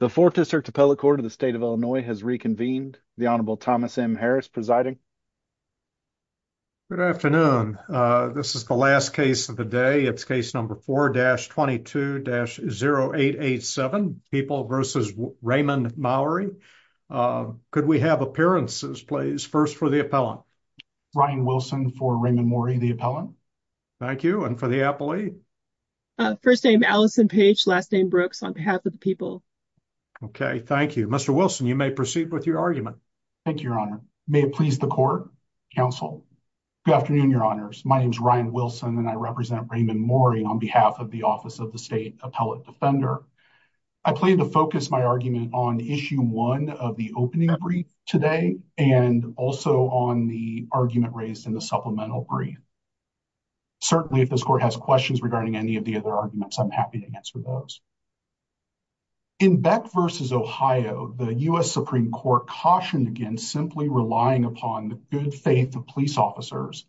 The 4th District Appellate Court of the State of Illinois has reconvened. The Honorable Thomas M. Harris presiding. Good afternoon. This is the last case of the day. It's case number 4-22-0887, People v. Raymond Maury. Could we have appearances, please? First, for the appellant. Ryan Wilson for Raymond Maury, the appellant. Thank you. And for the appellate? First name, Allison Page. Last name, Brooks, on behalf of the people. Okay. Thank you. Mr. Wilson, you may proceed with your argument. Thank you, Your Honor. May it please the court, counsel. Good afternoon, Your Honors. My name is Ryan Wilson, and I represent Raymond Maury on behalf of the Office of the State Appellate Defender. I plan to focus my argument on Issue 1 of the opening brief today and also on the argument raised in the supplemental brief. Certainly, if this court has questions regarding any of the other arguments, I'm happy to answer those. In Beck v. Ohio, the U.S. Supreme Court cautioned against simply relying upon the good faith of police officers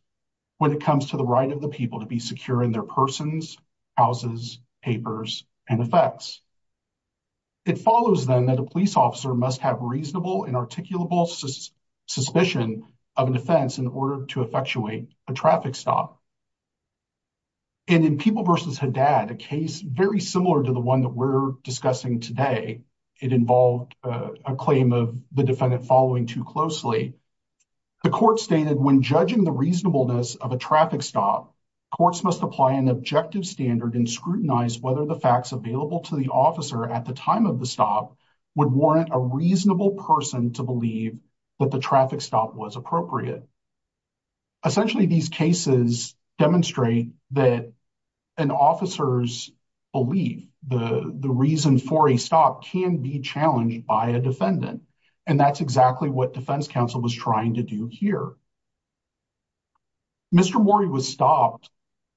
when it comes to the right of the people to be secure in their persons, houses, papers, and effects. It follows, then, a police officer must have reasonable and articulable suspicion of an offense in order to effectuate a traffic stop. And in People v. Haddad, a case very similar to the one that we're discussing today, it involved a claim of the defendant following too closely, the court stated, when judging the reasonableness of a traffic stop, courts must apply an objective standard and scrutinize whether the facts available to the officer at the time of the stop warrant a reasonable person to believe that the traffic stop was appropriate. Essentially, these cases demonstrate that an officer's belief, the reason for a stop, can be challenged by a defendant. And that's exactly what defense counsel was trying to do here. Mr. Morey was stopped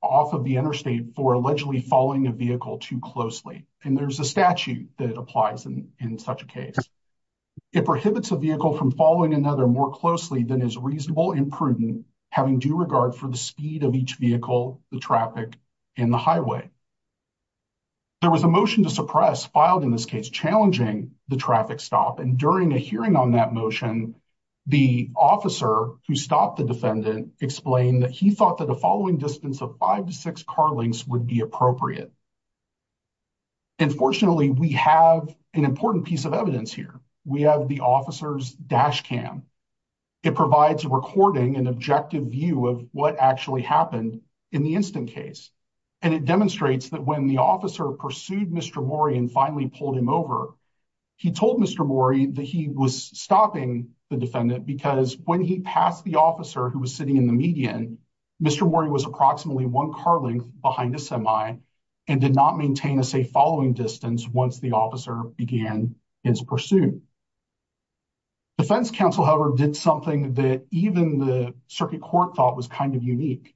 off of the interstate for allegedly following a vehicle too closely. And there's a statute that applies in such a case. It prohibits a vehicle from following another more closely than is reasonable and prudent, having due regard for the speed of each vehicle, the traffic, and the highway. There was a motion to suppress filed in this case challenging the traffic stop. And during a hearing on that motion, the officer who stopped the defendant explained that he thought that the following distance of five to six car lengths would be appropriate. Unfortunately, we have an important piece of evidence here. We have the officer's dash cam. It provides a recording, an objective view of what actually happened in the instant case. And it demonstrates that when the officer pursued Mr. Morey and finally pulled him over, he told Mr. Morey that he was stopping the defendant because when he passed the officer who was sitting in the median, Mr. Morey was approximately one car length behind a semi and did not maintain a safe following distance once the officer began his pursuit. Defense counsel, however, did something that even the circuit court thought was kind of unique.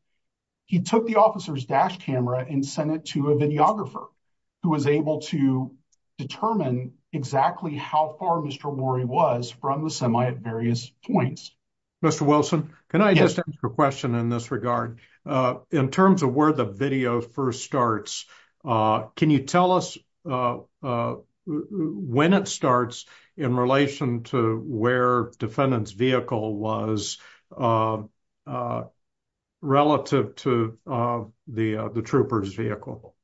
He took the officer's dash camera and sent it to a videographer who was able to determine exactly how far Mr. Morey was from the semi at various points. Mr. Wilson, can I just ask a question in this regard? In terms of where the video first starts, can you tell us when it starts in relation to where defendant's vehicle was relative to the trooper's vehicle?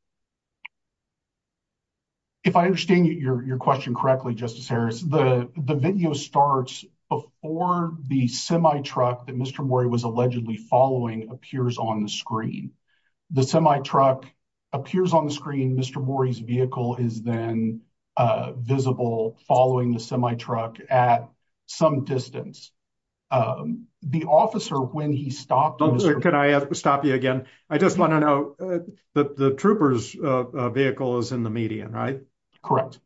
If I understand your question correctly, Justice Harris, the video starts before the semi-truck that Mr. Morey was allegedly following appears on the screen. The semi-truck appears on the screen, Mr. Morey's vehicle is then visible following the semi-truck at some distance. The officer when he Can I stop you again? I just want to know that the trooper's vehicle is in the median, right? Correct.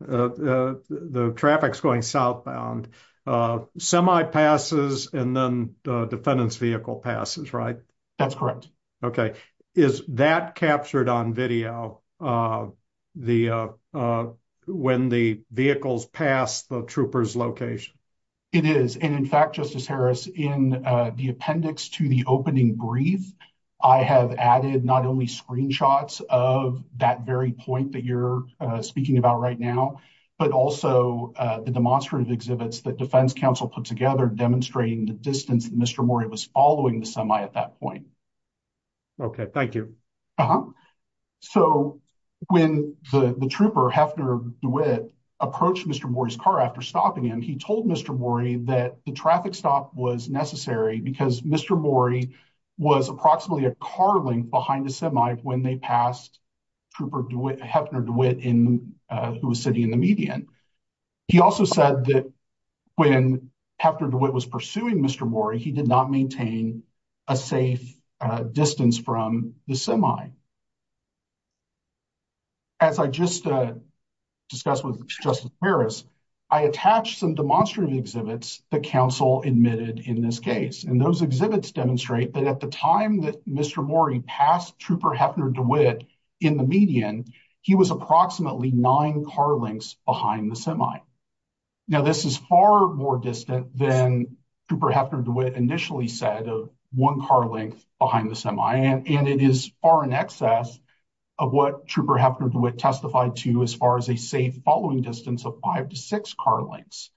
The traffic's going southbound. Semi passes and then the defendant's vehicle passes, right? That's correct. Okay. Is that captured on video when the vehicles pass the trooper's location? It is. In fact, Justice Harris, in the appendix to the opening brief, I have added not only screenshots of that very point that you're speaking about right now, but also the demonstrative exhibits that defense counsel put together demonstrating the distance Mr. Morey was following the semi at that point. Okay, thank you. So when the trooper, Hefner DeWitt, approached Mr. Morey's car after stopping him, he told Mr. Morey that the traffic stop was necessary because Mr. Morey was approximately a car length behind the semi when they passed trooper Hefner DeWitt who was sitting in the median. He also said that when Hefner DeWitt was pursuing Mr. Morey, he did not maintain a safe distance from the semi. As I just discussed with Justice Harris, I attached some demonstrative exhibits that counsel admitted in this case, and those exhibits demonstrate that at the time that Mr. Morey passed trooper Hefner DeWitt in the median, he was approximately nine car lengths behind the semi. Now this is far more distant than trooper Hefner DeWitt initially said of one car length behind the semi, and it is far in excess of what trooper Hefner DeWitt testified to as far as a safe following distance of five to six car lengths.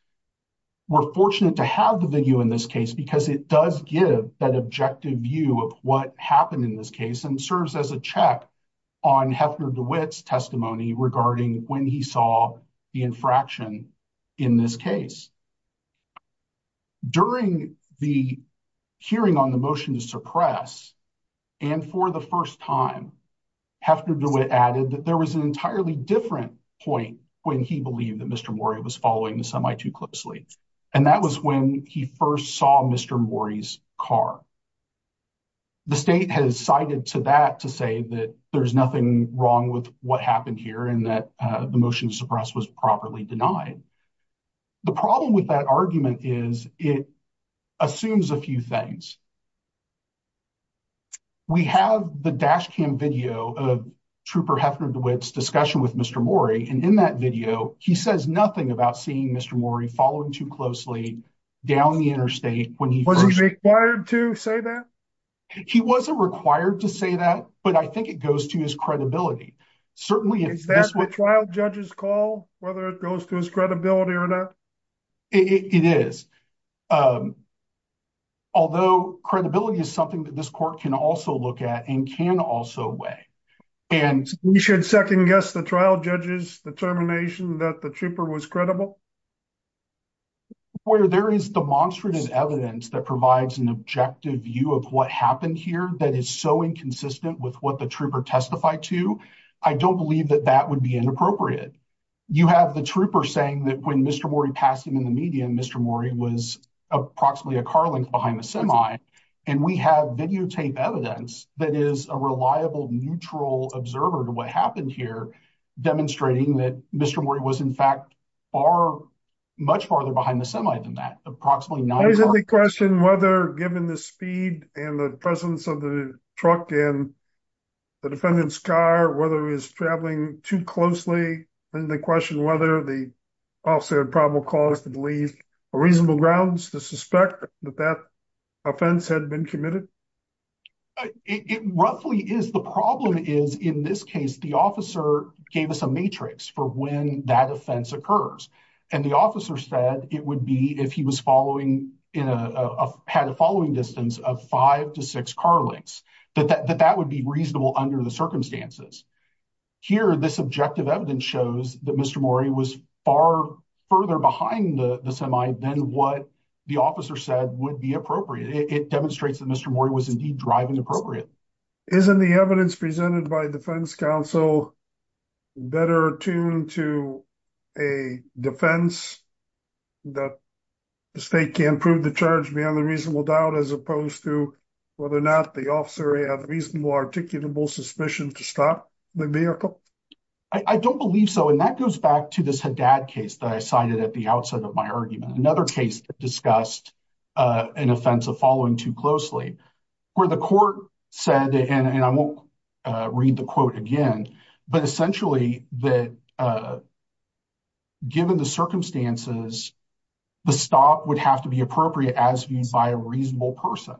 We're fortunate to have the video in this case because it does give that objective view of what happened in this case and serves as a check on Hefner DeWitt's testimony regarding when he saw the infraction in this case. During the hearing on the motion to suppress, and for the first time, Hefner DeWitt added that there was an entirely different point when he believed that Mr. Morey was following the semi too closely, and that was when he first saw Mr. Morey's car. The state has cited to that to say that there's nothing wrong with what happened here and that the motion to suppress was properly denied. The problem with that argument is it assumes a few things. We have the dash cam video of trooper Hefner DeWitt's discussion with Mr. Morey, and in that video he says nothing about seeing Mr. Morey following too closely down the interstate when he was required to say that. He wasn't required to say that, but I think it goes to his credibility. Certainly, is that what trial judges call whether it goes to his credibility or not? It is, although credibility is something that this court can also look at and can also weigh, and we should second guess the trial judge's determination that the trooper was credible. Well, where there is demonstrative evidence that provides an objective view of what happened here that is so inconsistent with what the trooper testified to, I don't believe that that would be inappropriate. You have the trooper saying that when Mr. Morey passed him in the media, Mr. Morey was approximately a car length behind the semi, and we have videotape evidence that is a reliable neutral observer to what happened here demonstrating that Mr. Morey was in fact far, much farther behind the semi than that. Approximately... There's a question whether given the speed and the presence of the truck and the defendant's car, whether he was traveling too closely, and the question whether the officer had probable cause to believe a reasonable grounds to suspect that that offense had been committed. It roughly is. The problem is in this case, the officer gave us a matrix for when that offense occurs, and the officer said it would be if he had a following distance of five to six car lengths, that that would be reasonable under the circumstances. Here, this objective evidence shows that Mr. Morey was far further behind the semi than what the officer said would be appropriate. It demonstrates that Mr. Morey was indeed driving appropriately. Isn't the evidence presented by defense counsel better attuned to a defense that the state can prove the charge beyond a reasonable doubt as opposed to whether or not the officer had reasonable articulable suspicion to stop the vehicle? I don't believe so, and that goes back to this Haddad case that I cited at the outside of my argument, another case that discussed an offense of following too closely where the court said, and I won't read the quote again, but essentially that given the circumstances, the stop would have to be appropriate as viewed by a reasonable person.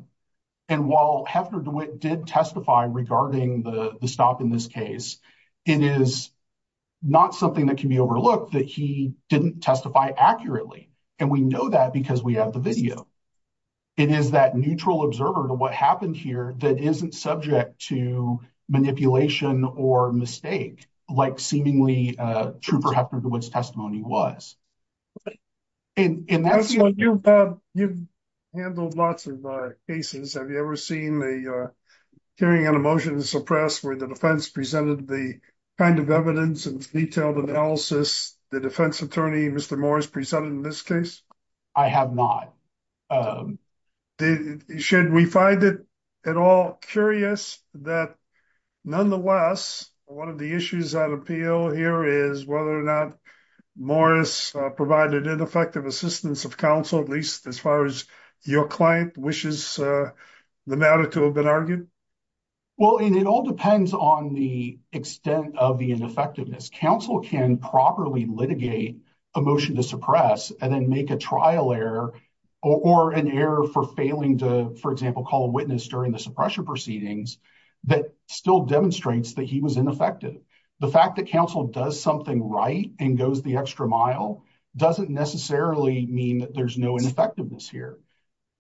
And while Hefner DeWitt did testify regarding the stop in this case, it is not something that can be overlooked that he didn't testify accurately, and we know that because we have the video. It is that neutral observer to what happened here that isn't subject to manipulation or mistake, like seemingly true for Hefner DeWitt's testimony was. You've handled lots of cases. Have you ever seen the carrying out a motion to suppress where the defense presented the kind of evidence and detailed analysis the defense attorney, Mr. Morris, presented in this case? I have not. Should we find it at all curious that nonetheless, one of the issues at appeal here is whether or not Morris provided ineffective assistance of counsel, at least as far as your client wishes the matter to have been argued? Well, it all depends on the extent of the ineffectiveness. Counsel can properly litigate a motion to suppress and then make a trial error or an error for failing to, for example, call a witness during the suppression proceedings that still demonstrates that he was ineffective. The fact that counsel does something right and goes the extra mile doesn't necessarily mean that there's no ineffectiveness here.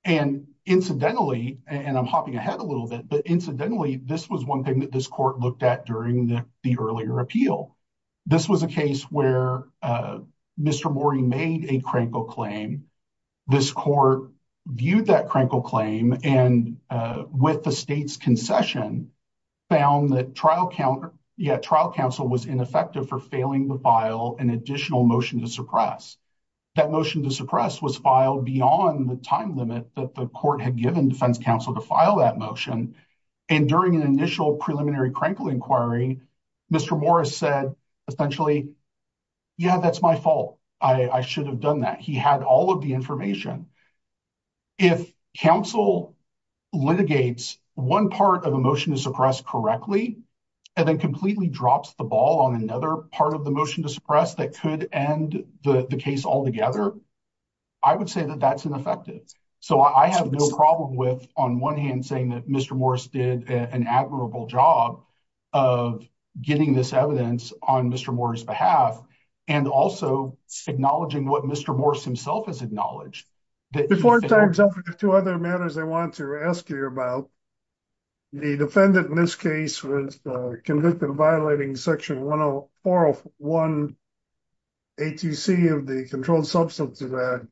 And incidentally, and I'm hopping ahead a little bit, but incidentally, this was one thing that this court looked at during the earlier appeal. This was a case where Mr. Morris made a crankle claim. This court viewed that crankle claim and with the state's concession found that trial counsel was ineffective for failing to file an additional motion to suppress. That motion to suppress was filed beyond the time limit that the court had given defense counsel to file that motion. And during an initial preliminary crankle inquiry, Mr. Morris said essentially, yeah, that's my fault. I should have done that. He had all of the information. If counsel litigates one part of a motion to suppress correctly and then completely drops the ball on another part of the motion to suppress that could end the case altogether, I would say that that's ineffective. So I have no problem with on one hand saying that Mr. Morris did an admirable job of getting this evidence on Mr. Morris' behalf and also acknowledging what Mr. Morris himself has acknowledged. Before I turn it over to other matters I want to ask you about, the defendant in this case was convicted of violating section 401 ATC of the Controlled Substances Act. It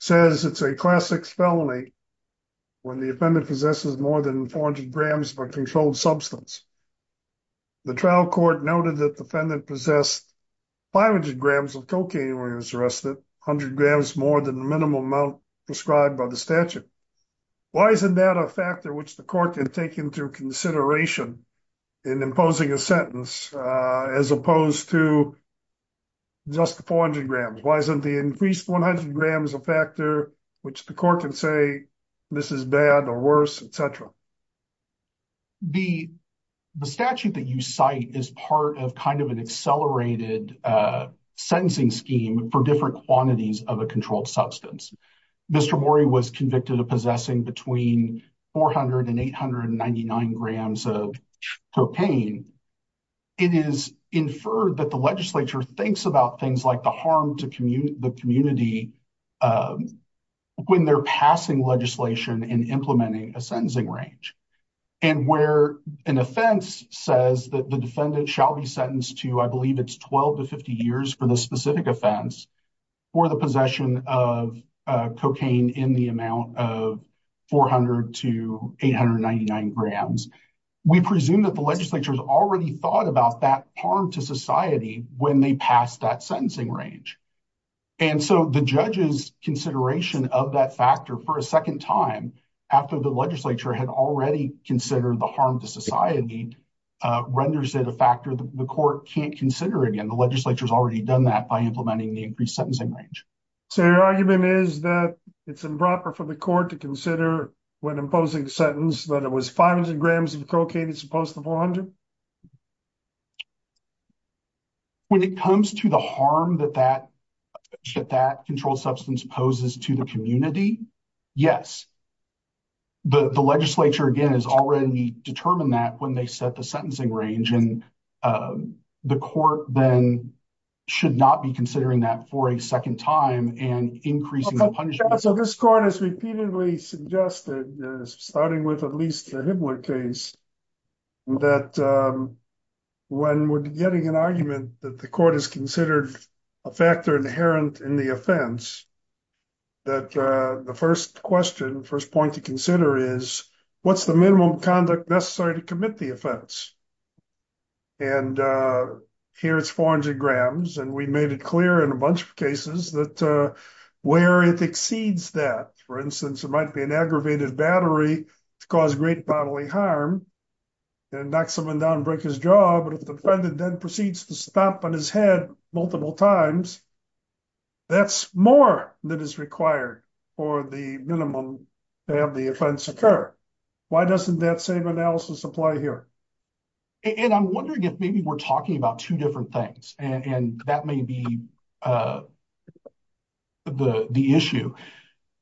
says it's a class 6 felony when the defendant possesses more than 400 grams of a controlled substance. The trial court noted that the defendant possessed 500 grams of cocaine when he was arrested, 100 grams more than the minimum amount prescribed by the statute. Why isn't that a factor which the court can take into consideration in imposing a sentence as opposed to just 400 grams? Why isn't the increased 100 grams a factor which the court can say this is bad or worse etc? The statute that you cite is part of kind of an accelerated sentencing scheme for different quantities of a controlled substance. Mr. Morris possesses 400 and 899 grams of cocaine. It is inferred that the legislature thinks about things like the harm to the community when they're passing legislation and implementing a sentencing range and where an offense says that the defendant shall be sentenced to I believe it's 12 to 50 years for the specific offense for the possession of cocaine in the amount of 400 to 899 grams. We presume that the legislature has already thought about that harm to society when they pass that sentencing range and so the judge's consideration of that factor for a second time after the legislature had already considered the harm to society renders it a factor the court can't consider again. The legislature has already done that by implementing the increased sentencing range. So your argument is that it's improper for the court to consider when imposing a sentence that it was 500 grams of cocaine as opposed to 400? When it comes to the harm that that controlled substance poses to the community, yes. The legislature again has already determined that when they set the sentencing range and the court then should not be considering that for a second time and increasing the punishment. So this court has repeatedly suggested starting with at least the Hibbler case that when we're getting an argument that the court has considered a factor inherent in the offense that the first question first point to consider is what's the minimum conduct necessary to commit the offense? And here it's 400 grams and we made it clear in a bunch of cases that where it exceeds that for instance it might be an aggravated battery to cause great bodily harm and knock someone down break his jaw but if the defendant then proceeds to stomp on his head multiple times that's more than is required for the minimum to have the offense occur. Why doesn't that same analysis apply here? And I'm wondering if maybe we're talking about two different things and that may be the issue.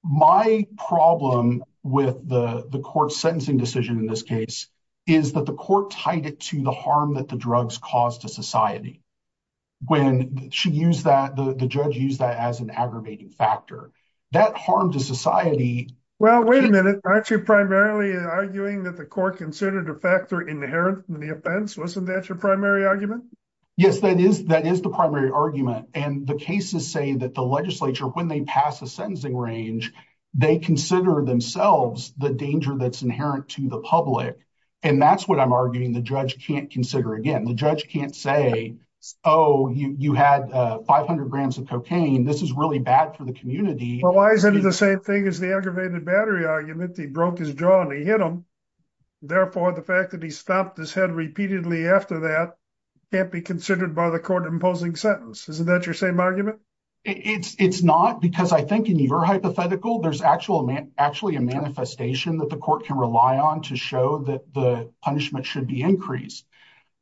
My problem with the court's sentencing decision in this case is that the court tied it to the harm that the drugs caused to society. When she used that the judge used that as an aggravating factor that harm to society. Well wait a minute aren't you primarily arguing that the court considered a factor inherent in the offense? Wasn't that your primary argument? Yes that is that is the primary argument and the cases say that the legislature when they pass a sentencing range they consider themselves the danger that's inherent to the public and that's what I'm arguing the judge can't consider again. The judge can't say oh you had 500 grams of cocaine this is really bad for the community. Well why isn't it the same thing as the aggravated battery argument he broke his jaw and he hit him therefore the fact that he stomped his head repeatedly after that can't be considered by the court imposing sentence. Isn't that your same argument? It's not because I think in your hypothetical there's actually a manifestation that the court can rely on to show that the punishment should be increased.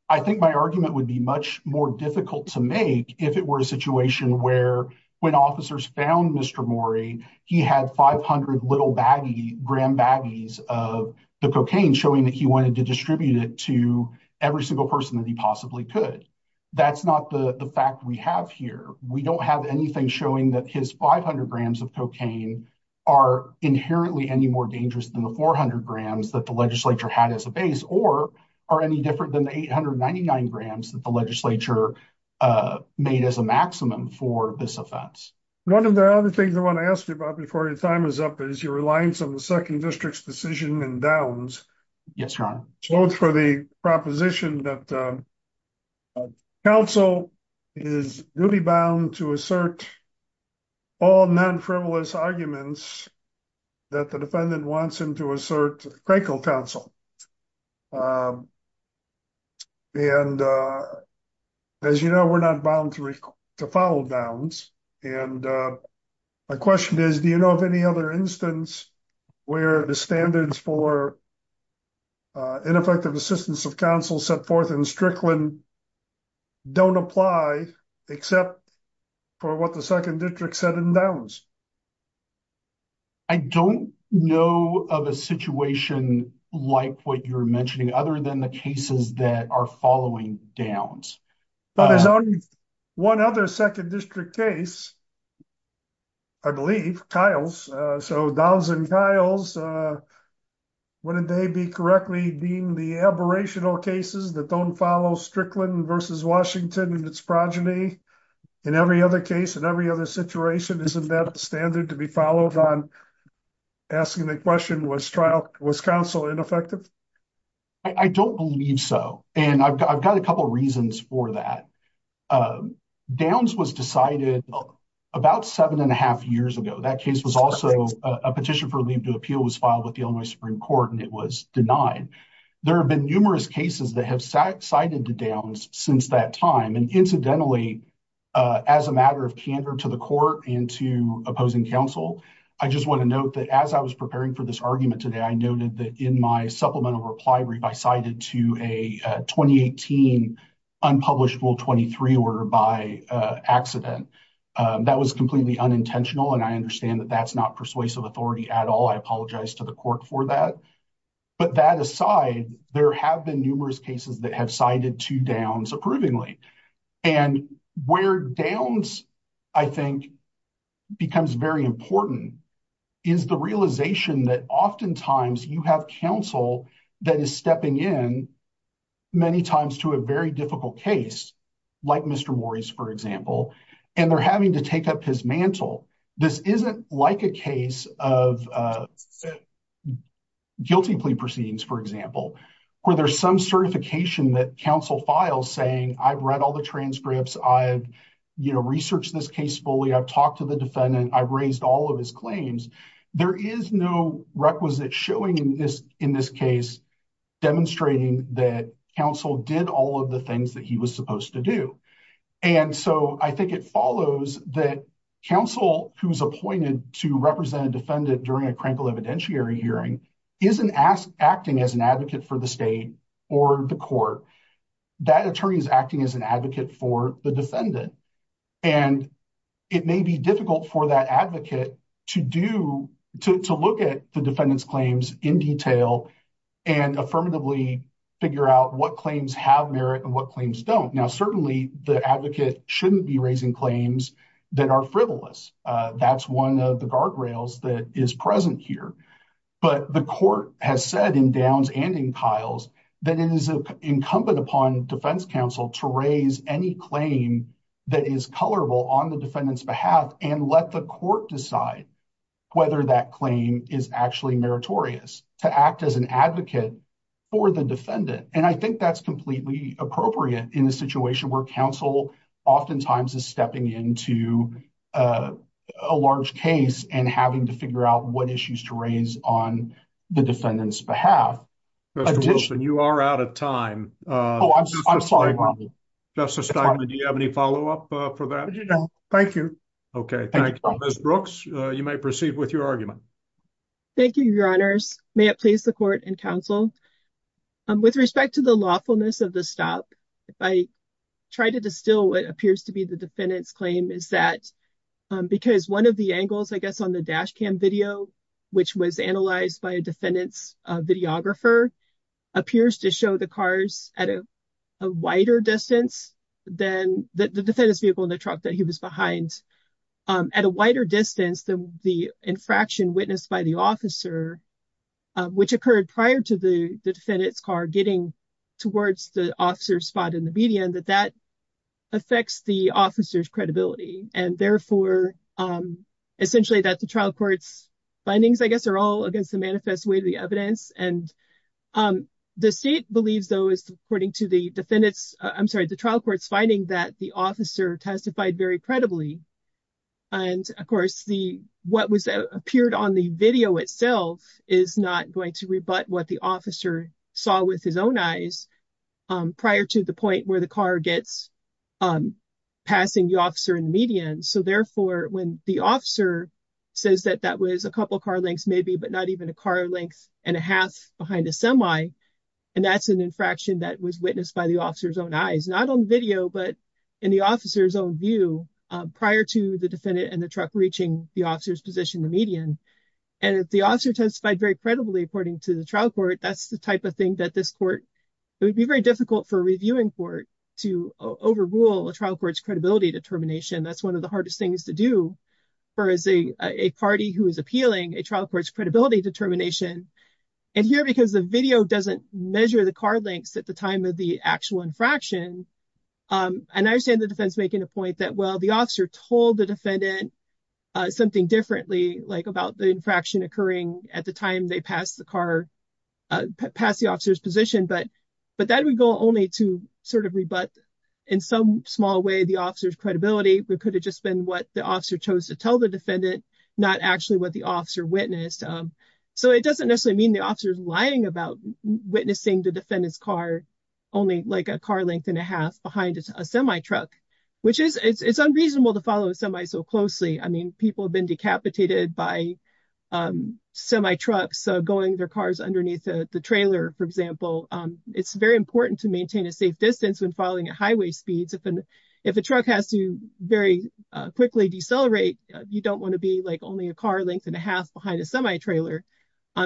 I think my argument would be much more difficult to make if it were a situation where when officers found Mr. Morey he had 500 little baggy gram baggies of the cocaine showing that he wanted to distribute it to every single person that he possibly could. That's not the the fact we have here we don't have anything showing that his 500 grams of cocaine are inherently any more dangerous than the 400 grams that the legislature had as a 899 grams that the legislature made as a maximum for this offense. One of the other things I want to ask you about before your time is up is your reliance on the second district's decision and downs. Yes your honor. Both for the proposition that council is duly bound to assert all non-frivolous arguments that the defendant wants him to assert Crankle counsel. And as you know we're not bound to follow bounds and my question is do you know of any other instance where the standards for ineffective assistance of counsel set forth in Strickland don't apply except for what the second district said in Downs? I don't know of a situation like what you're mentioning other than the cases that are following Downs. But there's only one other second district case I believe, Kyle's. So Downs and Kyle's wouldn't they be correctly deemed the cases that don't follow Strickland versus Washington and its progeny in every other case in every other situation isn't that standard to be followed on asking the question was trial was counsel ineffective? I don't believe so and I've got a couple reasons for that. Downs was decided about seven and a half years ago that case was also a petition for leave to cases that have cited to Downs since that time and incidentally as a matter of candor to the court and to opposing counsel I just want to note that as I was preparing for this argument today I noted that in my supplemental reply I cited to a 2018 unpublished rule 23 order by accident. That was completely unintentional and I understand that that's not persuasive authority at all. I apologize to the court for that but that aside there have been numerous cases that have cited to Downs approvingly and where Downs I think becomes very important is the realization that oftentimes you have counsel that is stepping in many times to a very difficult case like Mr. Morris for example and they're having to take up his mantle. This isn't like a case of guilty plea proceedings for example where there's some certification that counsel files saying I've read all the transcripts I've you know researched this case fully I've talked to the defendant I've raised all of his claims. There is no requisite showing in this in this case demonstrating that counsel did all of the things that he was supposed to do and so I think it follows that counsel who's appointed to represent a defendant during a crankle evidentiary hearing isn't acting as an advocate for the state or the court. That attorney is acting as an advocate for the defendant and it may be difficult for that advocate to do to look at the defendant's claims in detail and affirmatively figure out what claims have merit and what claims don't. Now certainly the advocate shouldn't be raising claims that are frivolous that's one of the guardrails that is present here but the court has said in Downs and in Kiles that it is incumbent upon defense counsel to raise any claim that is colorable on the defendant's behalf and let the court decide whether that claim is actually meritorious to act as an advocate for the defendant and I think that's completely appropriate in a situation where counsel oftentimes is stepping into a large case and having to figure out what issues to raise on the defendant's behalf. Mr. Wilson you are out of time. Oh I'm sorry. Justice Steinman do you have any follow-up for that? No thank you. Okay thank you. Ms. Brooks you may proceed with your argument. Thank you your honors. May it please the court and counsel with respect to the lawfulness of the stop if I try to distill what appears to be the defendant's claim is that because one of the angles I guess on the dash cam video which was analyzed by a defendant's videographer appears to show the cars at a wider distance than the defendant's vehicle in the truck that he was behind at a wider distance than the infraction witnessed by the officer which occurred prior to the defendant's car getting towards the officer's spot in the media and that that affects the officer's credibility and therefore essentially that the trial court's findings I all against the manifest way to the evidence and the state believes though is according to the defendants I'm sorry the trial court's finding that the officer testified very credibly and of course the what was appeared on the video itself is not going to rebut what the officer saw with his own eyes prior to the point where the car gets passing the officer in the media so therefore when the officer says that that was a couple car lengths maybe but not even a car length and a half behind a semi and that's an infraction that was witnessed by the officer's own eyes not on video but in the officer's own view prior to the defendant and the truck reaching the officer's position the median and if the officer testified very credibly according to the trial court that's the type of thing that this court it would be very difficult for a reviewing court to overrule a trial court's credibility determination that's one of the hardest things to do for as a a party who is appealing a trial court's credibility determination and here because the video doesn't measure the car lengths at the time of the actual infraction and I understand the defense making a point that well the officer told the defendant something differently like about the infraction occurring at the time they passed the car past the officer's position but but that would go only to sort of in some small way the officer's credibility but could have just been what the officer chose to tell the defendant not actually what the officer witnessed so it doesn't necessarily mean the officer's lying about witnessing the defendant's car only like a car length and a half behind a semi-truck which is it's unreasonable to follow a semi so closely I mean people have been decapitated by semi trucks going their cars underneath the trailer for example it's very important to a safe distance when following at highway speeds if an if a truck has to very quickly decelerate you don't want to be like only a car length and a half behind a semi-trailer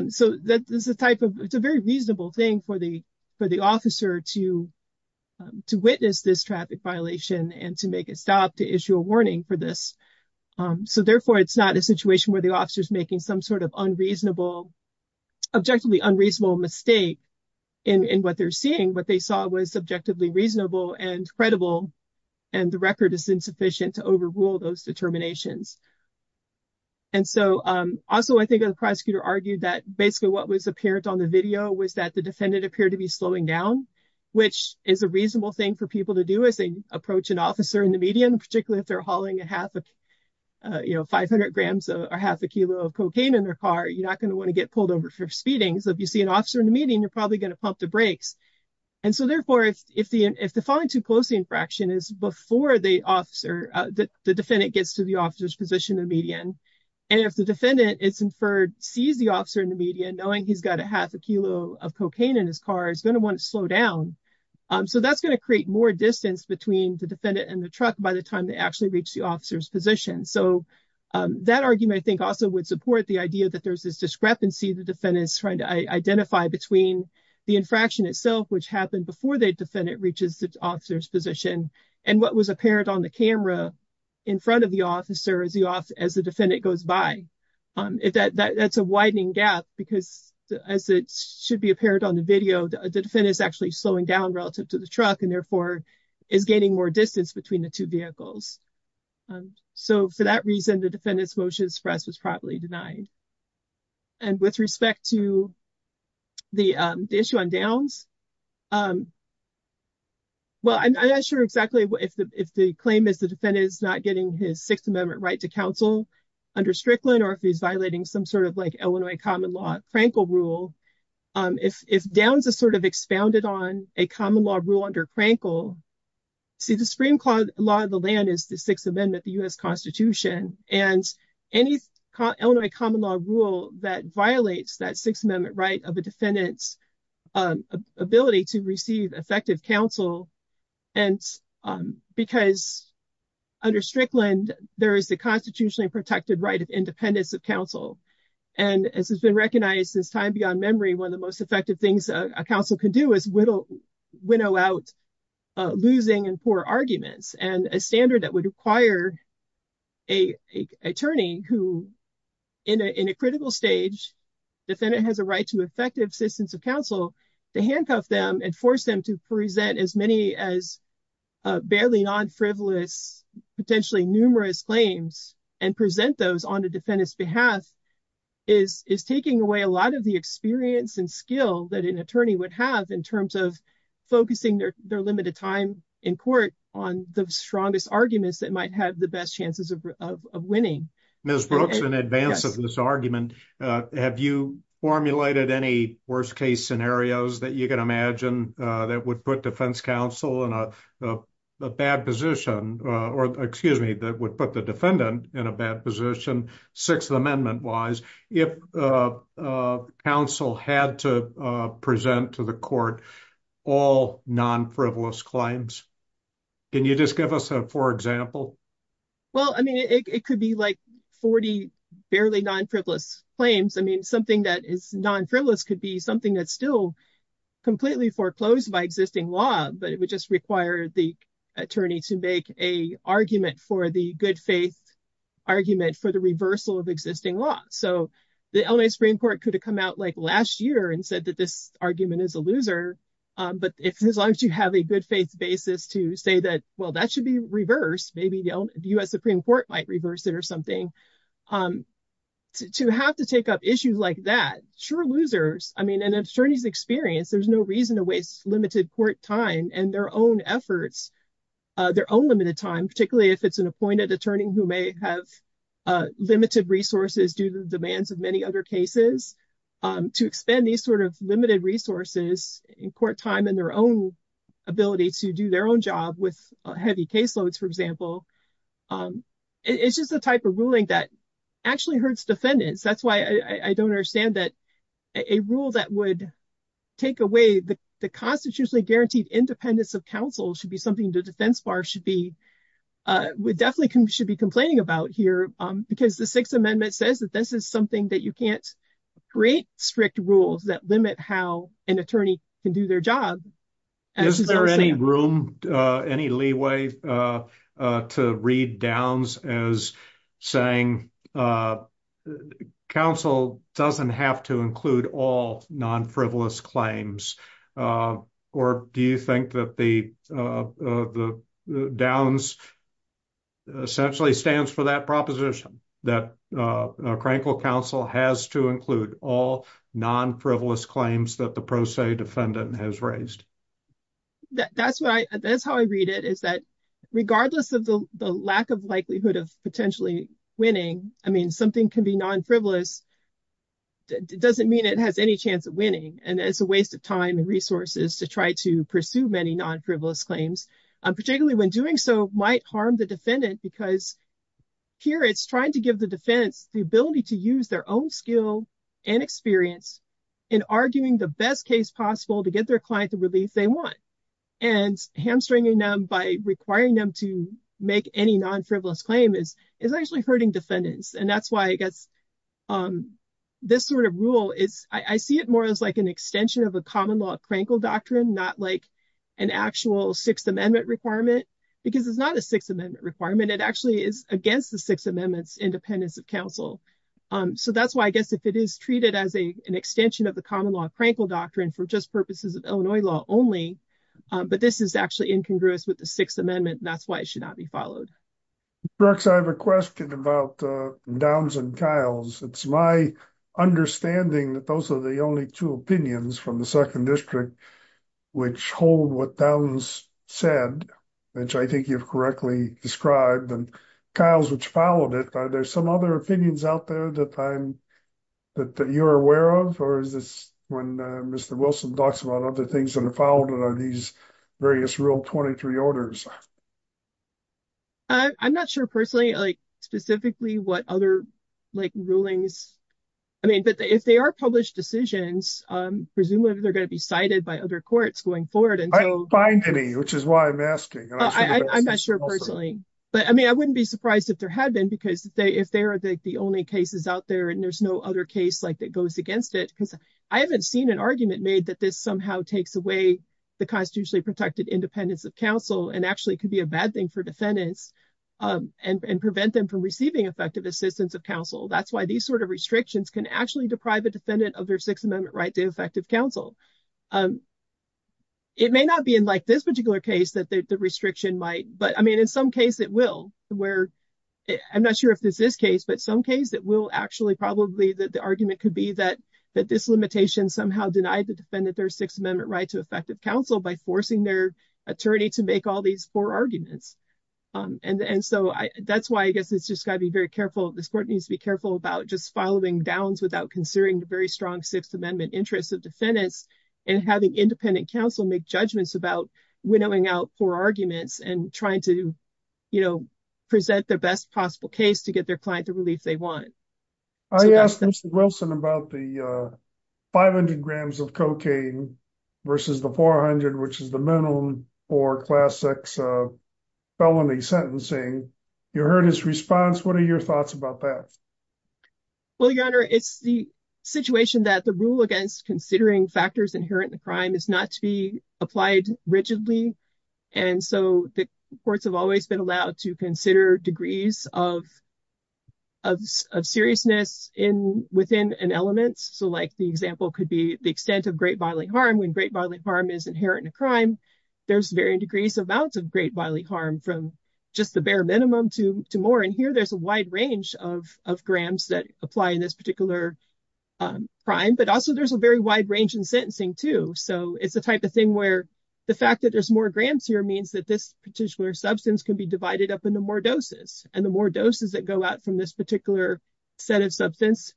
so that is a type of it's a very reasonable thing for the for the officer to to witness this traffic violation and to make a stop to issue a warning for this so therefore it's not a situation where the officer's making some sort of unreasonable objectively unreasonable mistake in in what they're seeing what they saw was subjectively reasonable and credible and the record is insufficient to overrule those determinations and so also I think the prosecutor argued that basically what was apparent on the video was that the defendant appeared to be slowing down which is a reasonable thing for people to do as they approach an officer in the median particularly if they're hauling a half of you know 500 grams or half a kilo of cocaine in their car you're not going to want to get pulled over for speeding so if you see an officer in the meeting you're probably going to pump the brakes and so therefore if the if the falling too closely infraction is before the officer the defendant gets to the officer's position in the median and if the defendant is inferred sees the officer in the median knowing he's got a half a kilo of cocaine in his car he's going to want to slow down so that's going to create more distance between the defendant and the truck by the time they actually reach the officer's position so that argument I think also would support the idea that there's this discrepancy the defendant is identifying between the infraction itself which happened before the defendant reaches the officer's position and what was apparent on the camera in front of the officer as the off as the defendant goes by if that that's a widening gap because as it should be apparent on the video the defendant is actually slowing down relative to the truck and therefore is gaining more distance between the two vehicles so for that reason the defendant's motion to express was properly denied and with respect to the issue on downs well I'm not sure exactly what if the if the claim is the defendant is not getting his sixth amendment right to counsel under Strickland or if he's violating some sort of like Illinois common law Frankel rule if if downs is sort of expounded on a common law rule under Frankel see the supreme law of the land is the sixth amendment the U.S. constitution and any Illinois common law rule that violates that sixth amendment right of a defendant's ability to receive effective counsel and because under Strickland there is the constitutionally protected right of independence of counsel and as has been recognized since time beyond memory one of the most effective things a counsel can do is whittle winnow out losing and poor arguments and a standard that would require a attorney who in a critical stage defendant has a right to effective assistance of counsel to handcuff them and force them to present as many as barely non-frivolous potentially numerous claims and present those on the defendant's behalf is is taking away a lot of the experience and skill that an attorney would have in terms of focusing their their limited time in court on the strongest arguments that might have the best chances of winning. Ms. Brooks in advance of this argument have you formulated any worst case scenarios that you can imagine that would put defense counsel in a bad position or excuse me that would put the defendant in a bad position sixth amendment wise if counsel had to present to the court all non-frivolous claims can you just give us a for example well I mean it could be like 40 barely non-frivolous claims I mean something that is non-frivolous could be something that's still completely foreclosed by existing law but it would just require the attorney to make a argument for the good faith argument for the reversal of existing law so the L.A. Supreme Court could have come out like last year and said that this argument is a loser but if as long as you have a good faith basis to say that well that should be reversed maybe the U.S. Supreme Court might reverse it or something to have to take up issues like that sure losers I mean an attorney's experience there's no reason to waste limited court time and their own efforts their own limited time particularly if it's an appointed attorney who may have limited resources due to the demands of many other cases to expend these sort of limited resources in court time and their own ability to do their own job with heavy caseloads for example it's just a type of ruling that actually hurts defendants that's why I don't understand that a rule that would take away the constitutionally guaranteed independence of defense bar should be definitely should be complaining about here because the sixth amendment says that this is something that you can't create strict rules that limit how an attorney can do their job is there any room any leeway to read downs as saying uh council doesn't have to include all non-frivolous claims uh or do you think that the uh the downs essentially stands for that proposition that uh crankle council has to include all non-frivolous claims that the pro se defendant has raised that that's what I that's how I read it is that regardless of the the lack of likelihood of potentially winning I mean something can be non-frivolous it doesn't mean it has any chance of winning and it's a waste of time and resources to try to pursue many non-frivolous claims particularly when doing so might harm the defendant because here it's trying to give the defense the ability to use their own skill and experience in arguing the best case possible to get their client the relief they want and hamstringing them by requiring them to make any non-frivolous claim is is actually hurting defendants and that's why I guess um this sort of rule is I see it more as like an extension of a common law crankle doctrine not like an actual sixth amendment requirement because it's not a sixth amendment requirement it actually is against the six amendments independence of council um so that's why I guess if it is treated as a an extension of the common law crankle doctrine for just purposes of Illinois law only but this is actually incongruous with the sixth amendment that's why it should not be followed. Brooks I have a question about uh Downs and Kiles it's my understanding that those are the only two opinions from the second district which hold what Downs said which I think you've correctly described and Kiles which followed it are there some other opinions out there that I'm that you're aware of or is this when Mr. Wilson talks about other things that are followed are these various rule 23 orders? I'm not sure personally like specifically what other like rulings I mean but if they are published decisions um presumably they're going to be cited by other courts going forward and so I don't find any which is why I'm asking I'm not sure personally but I mean I wouldn't be surprised if there had been because if they if they are the only cases out there and there's no other case like that goes against it because I haven't seen an argument made that this somehow takes away the constitutionally protected independence of counsel and actually could be a bad thing for defendants and prevent them from receiving effective assistance of counsel that's why these sort of restrictions can actually deprive a defendant of their sixth amendment right to effective counsel. It may not be in like this particular case that the restriction might but I mean in some case it will where I'm not sure if this is case but some case that will actually probably that the argument could be that that this limitation somehow denied the defendant their sixth amendment right to effective counsel by forcing their attorney to make all these four arguments um and and so I that's why I guess it's just got to be very careful this court needs to be careful about just following downs without considering the very strong sixth amendment interests of defendants and having independent counsel make judgments about winnowing out four arguments and trying to you know present their best possible case to get their client the relief they want. I asked Mr. Wilson about the 500 grams of cocaine versus the 400 which is the minimum for class x felony sentencing you heard his response what are your thoughts about that? Well your honor it's the situation that the rule against considering factors inherent in crime is not to be applied rigidly and so the courts have always been allowed to consider degrees of of seriousness in within an element so like the example could be the extent of great bodily harm when great bodily harm is inherent in a crime there's varying degrees amounts of great bodily harm from just the bare minimum to to more and here there's a wide range of of grams that apply in this particular crime but also there's a very wide range in sentencing too so it's the type of thing where the fact that there's more grams here means that this particular substance can be divided up into more doses and the more doses that go out from this particular set of substance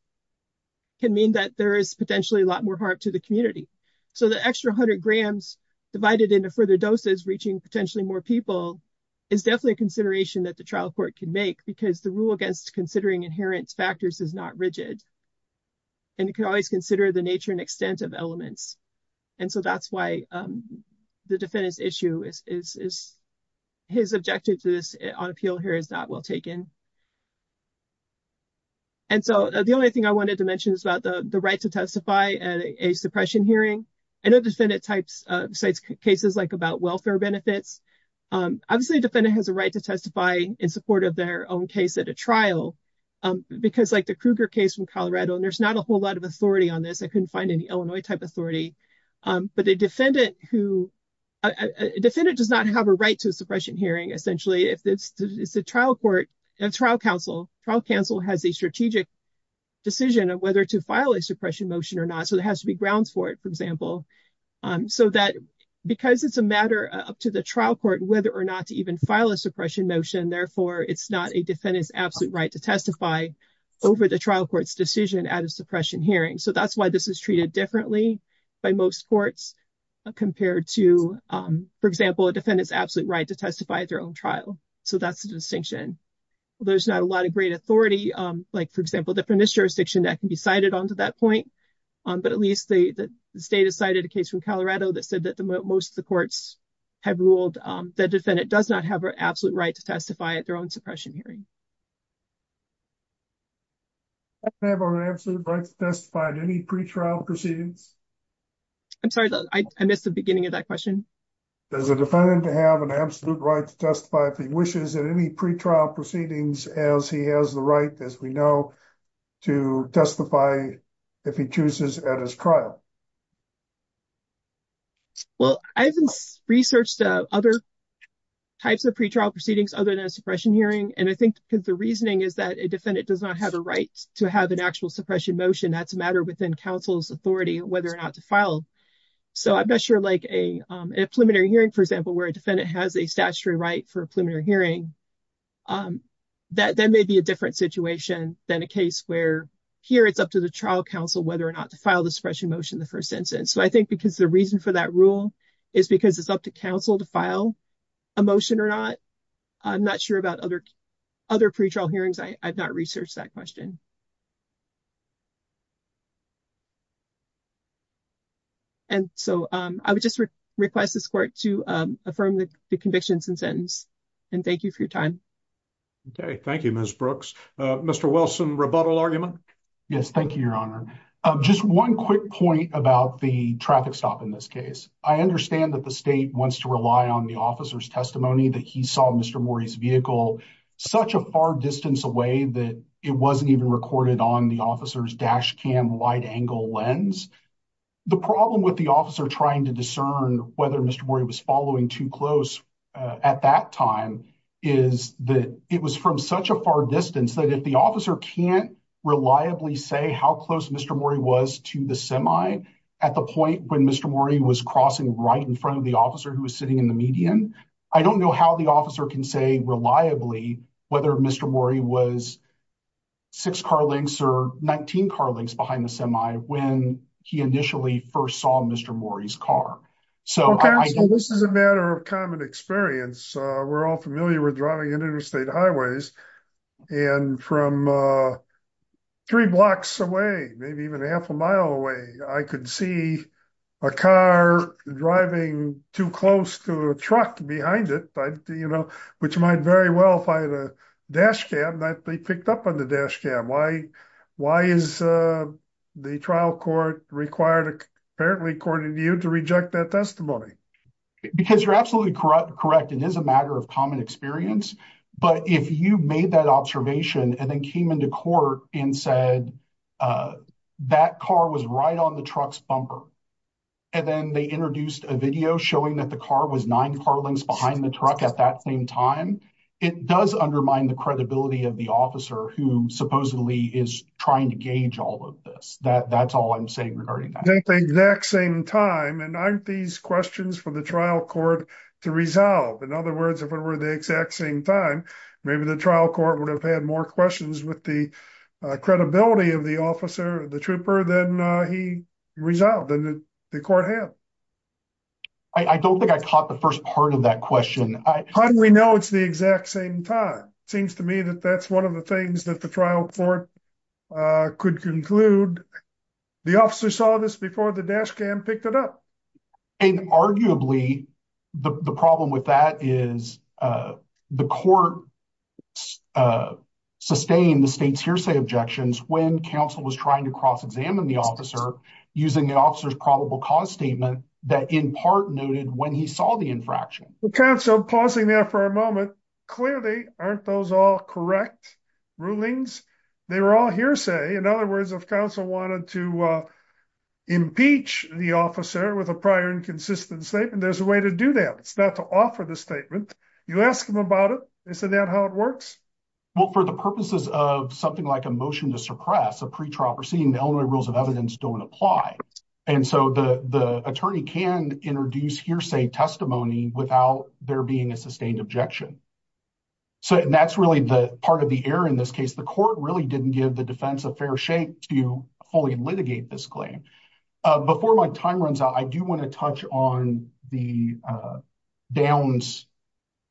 can mean that there is potentially a lot more harm to the community so the extra 100 grams divided into further doses reaching potentially more people is definitely a consideration that the trial court can make because the rule against considering inherent factors is not rigid and you can always consider the nature and extent of elements and so that's why the defendant's issue is is his objective to this on appeal here is not well taken and so the only thing i wanted to mention is about the the right to testify at a suppression hearing i know defendant types uh besides cases like about welfare benefits um obviously defendant has a right to testify in support of their own case at a trial um because like the kruger case from colorado and there's not a whole lot of authority on this i couldn't find any illinois type authority um but a defendant who a defendant does not have a right to suppression hearing essentially if this is a trial court and trial counsel trial counsel has a strategic decision of whether to file a suppression motion or not so there has to be grounds for it for example um so that because it's a matter up to the trial court whether or not to even file a suppression motion therefore it's not a defendant's absolute right to testify over the trial court's decision at a suppression hearing so that's why this is treated differently by most courts compared to um for example a defendant's absolute right to testify at their own trial so that's the distinction there's not a lot of great authority um like for example the premise jurisdiction that can be cited onto that point um but at least the state has cited a case from colorado that said that the most of the courts have ruled um the defendant does not have an absolute right to testify at their own suppression hearing have our absolute rights testified any pre-trial proceedings i'm sorry i missed the beginning of that question does the defendant have an absolute right to testify if he wishes in any pre-trial proceedings as he has the right as we know to testify if he chooses at his trial well i haven't researched uh other types of pre-trial proceedings other than a suppression hearing and i think because the reasoning is that a defendant does not have a right to have an actual suppression motion that's a matter within council's authority whether or not to file so i'm not sure like a um a preliminary hearing for example where a defendant has a statutory right for a preliminary hearing um that that may be a different situation than a case where here it's up to the trial council whether or not to file the suppression motion the first instance so i think because the reason for that rule is because it's up to council to file a motion or i'm not sure about other other pre-trial hearings i've not researched that question and so um i would just request this court to um affirm the convictions and sentence and thank you for your time okay thank you miss brooks uh mr wilson rebuttal argument yes thank you your honor um just one quick point about the traffic stop in this case i understand that the state wants to rely on the officer's testimony that he saw mr maury's vehicle such a far distance away that it wasn't even recorded on the officer's dash cam wide-angle lens the problem with the officer trying to discern whether mr maury was following too close at that time is that it was from such a far distance that if the officer can't reliably say how close mr maury was to the semi at the point when mr maury was crossing right in front of the officer who was sitting in the median i don't know how the officer can say reliably whether mr maury was six car lengths or 19 car lengths behind the semi when he initially first saw mr maury's car so this is a matter of common experience uh we're all familiar with driving interstate highways and from uh three blocks away maybe even a half a mile away i could see a car driving too close to a truck behind it but you know which might very well find a dash cam that they picked up on the dash cam why why is uh the trial court required apparently according to you to reject that testimony because you're absolutely correct it is a matter of common experience but if you made that observation and then came into court and said uh that car was right on the truck's bumper and then they introduced a video showing that the car was nine car lengths behind the truck at that same time it does undermine the credibility of the officer who supposedly is trying to gauge all of this that that's all i'm to resolve in other words if it were the exact same time maybe the trial court would have had more questions with the uh credibility of the officer the trooper than uh he resolved and the court had i don't think i caught the first part of that question how do we know it's the exact same time seems to me that that's one of the things that the trial court uh could conclude the officer saw this before the dash cam picked it up and arguably the the problem with that is uh the court uh sustained the state's hearsay objections when counsel was trying to cross examine the officer using the officer's probable cause statement that in part noted when he saw the infraction counsel pausing there for a moment clearly aren't those all correct rulings they were all hearsay in other words if counsel wanted to uh impeach the officer with a prior inconsistent statement there's a way to do that it's not to offer the statement you ask them about it they said that how it works well for the purposes of something like a motion to suppress a pre-trial proceeding the only rules of evidence don't apply and so the the attorney can introduce hearsay testimony without there being a sustained objection so and that's really the part of the in this case the court really didn't give the defense a fair shake to fully litigate this claim before my time runs out i do want to touch on the uh downs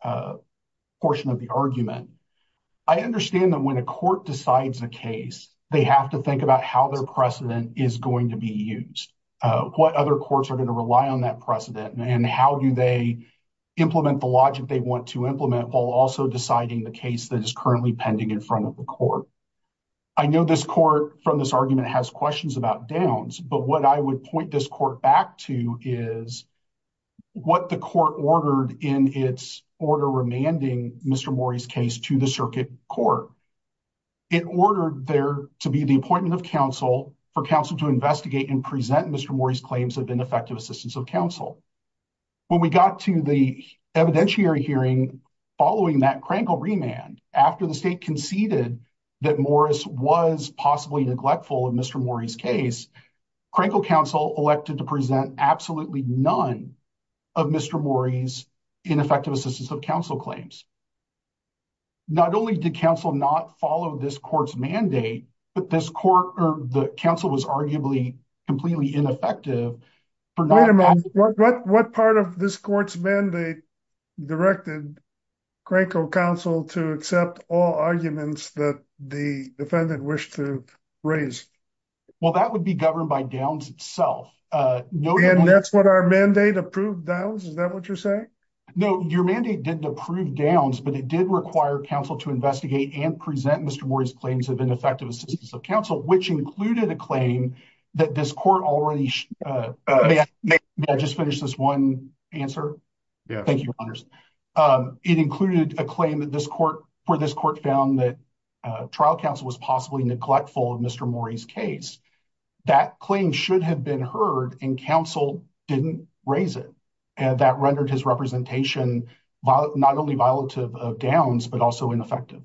uh portion of the argument i understand that when a court decides a case they have to think about how their precedent is going to be used uh what other courts are going to rely on that precedent and how do they implement the logic they want to implement while also deciding the case that is currently pending in front of the court i know this court from this argument has questions about downs but what i would point this court back to is what the court ordered in its order remanding mr maury's case to the circuit court it ordered there to be the appointment of counsel for counsel to investigate and present mr maury's claims of ineffective assistance of counsel when we got to the evidentiary hearing following that crankle remand after the state conceded that morris was possibly neglectful of mr maury's case crankle counsel elected to present absolutely none of mr maury's ineffective assistance of counsel claims not only did counsel not follow this court's mandate but this court or the council was arguably completely ineffective for not what what part of this court's mandate directed crankle counsel to accept all arguments that the defendant wished to raise well that would be governed by downs itself uh no and that's what our mandate approved downs is that what you're saying no your mandate didn't approve downs but it did require counsel to investigate and present mr maury's claims of ineffective assistance of counsel which included a claim that this court already uh may i just finish this one answer yeah thank you honors um it included a claim that this court for this court found that uh trial counsel was possibly neglectful of mr maury's case that claim should have been heard and counsel didn't raise it and that rendered his representation not only violative of downs but also ineffective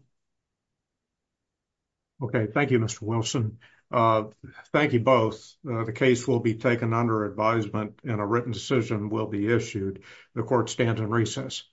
okay thank you mr wilson uh thank you both the case will be taken under advisement and a written decision will be issued the court stands in recess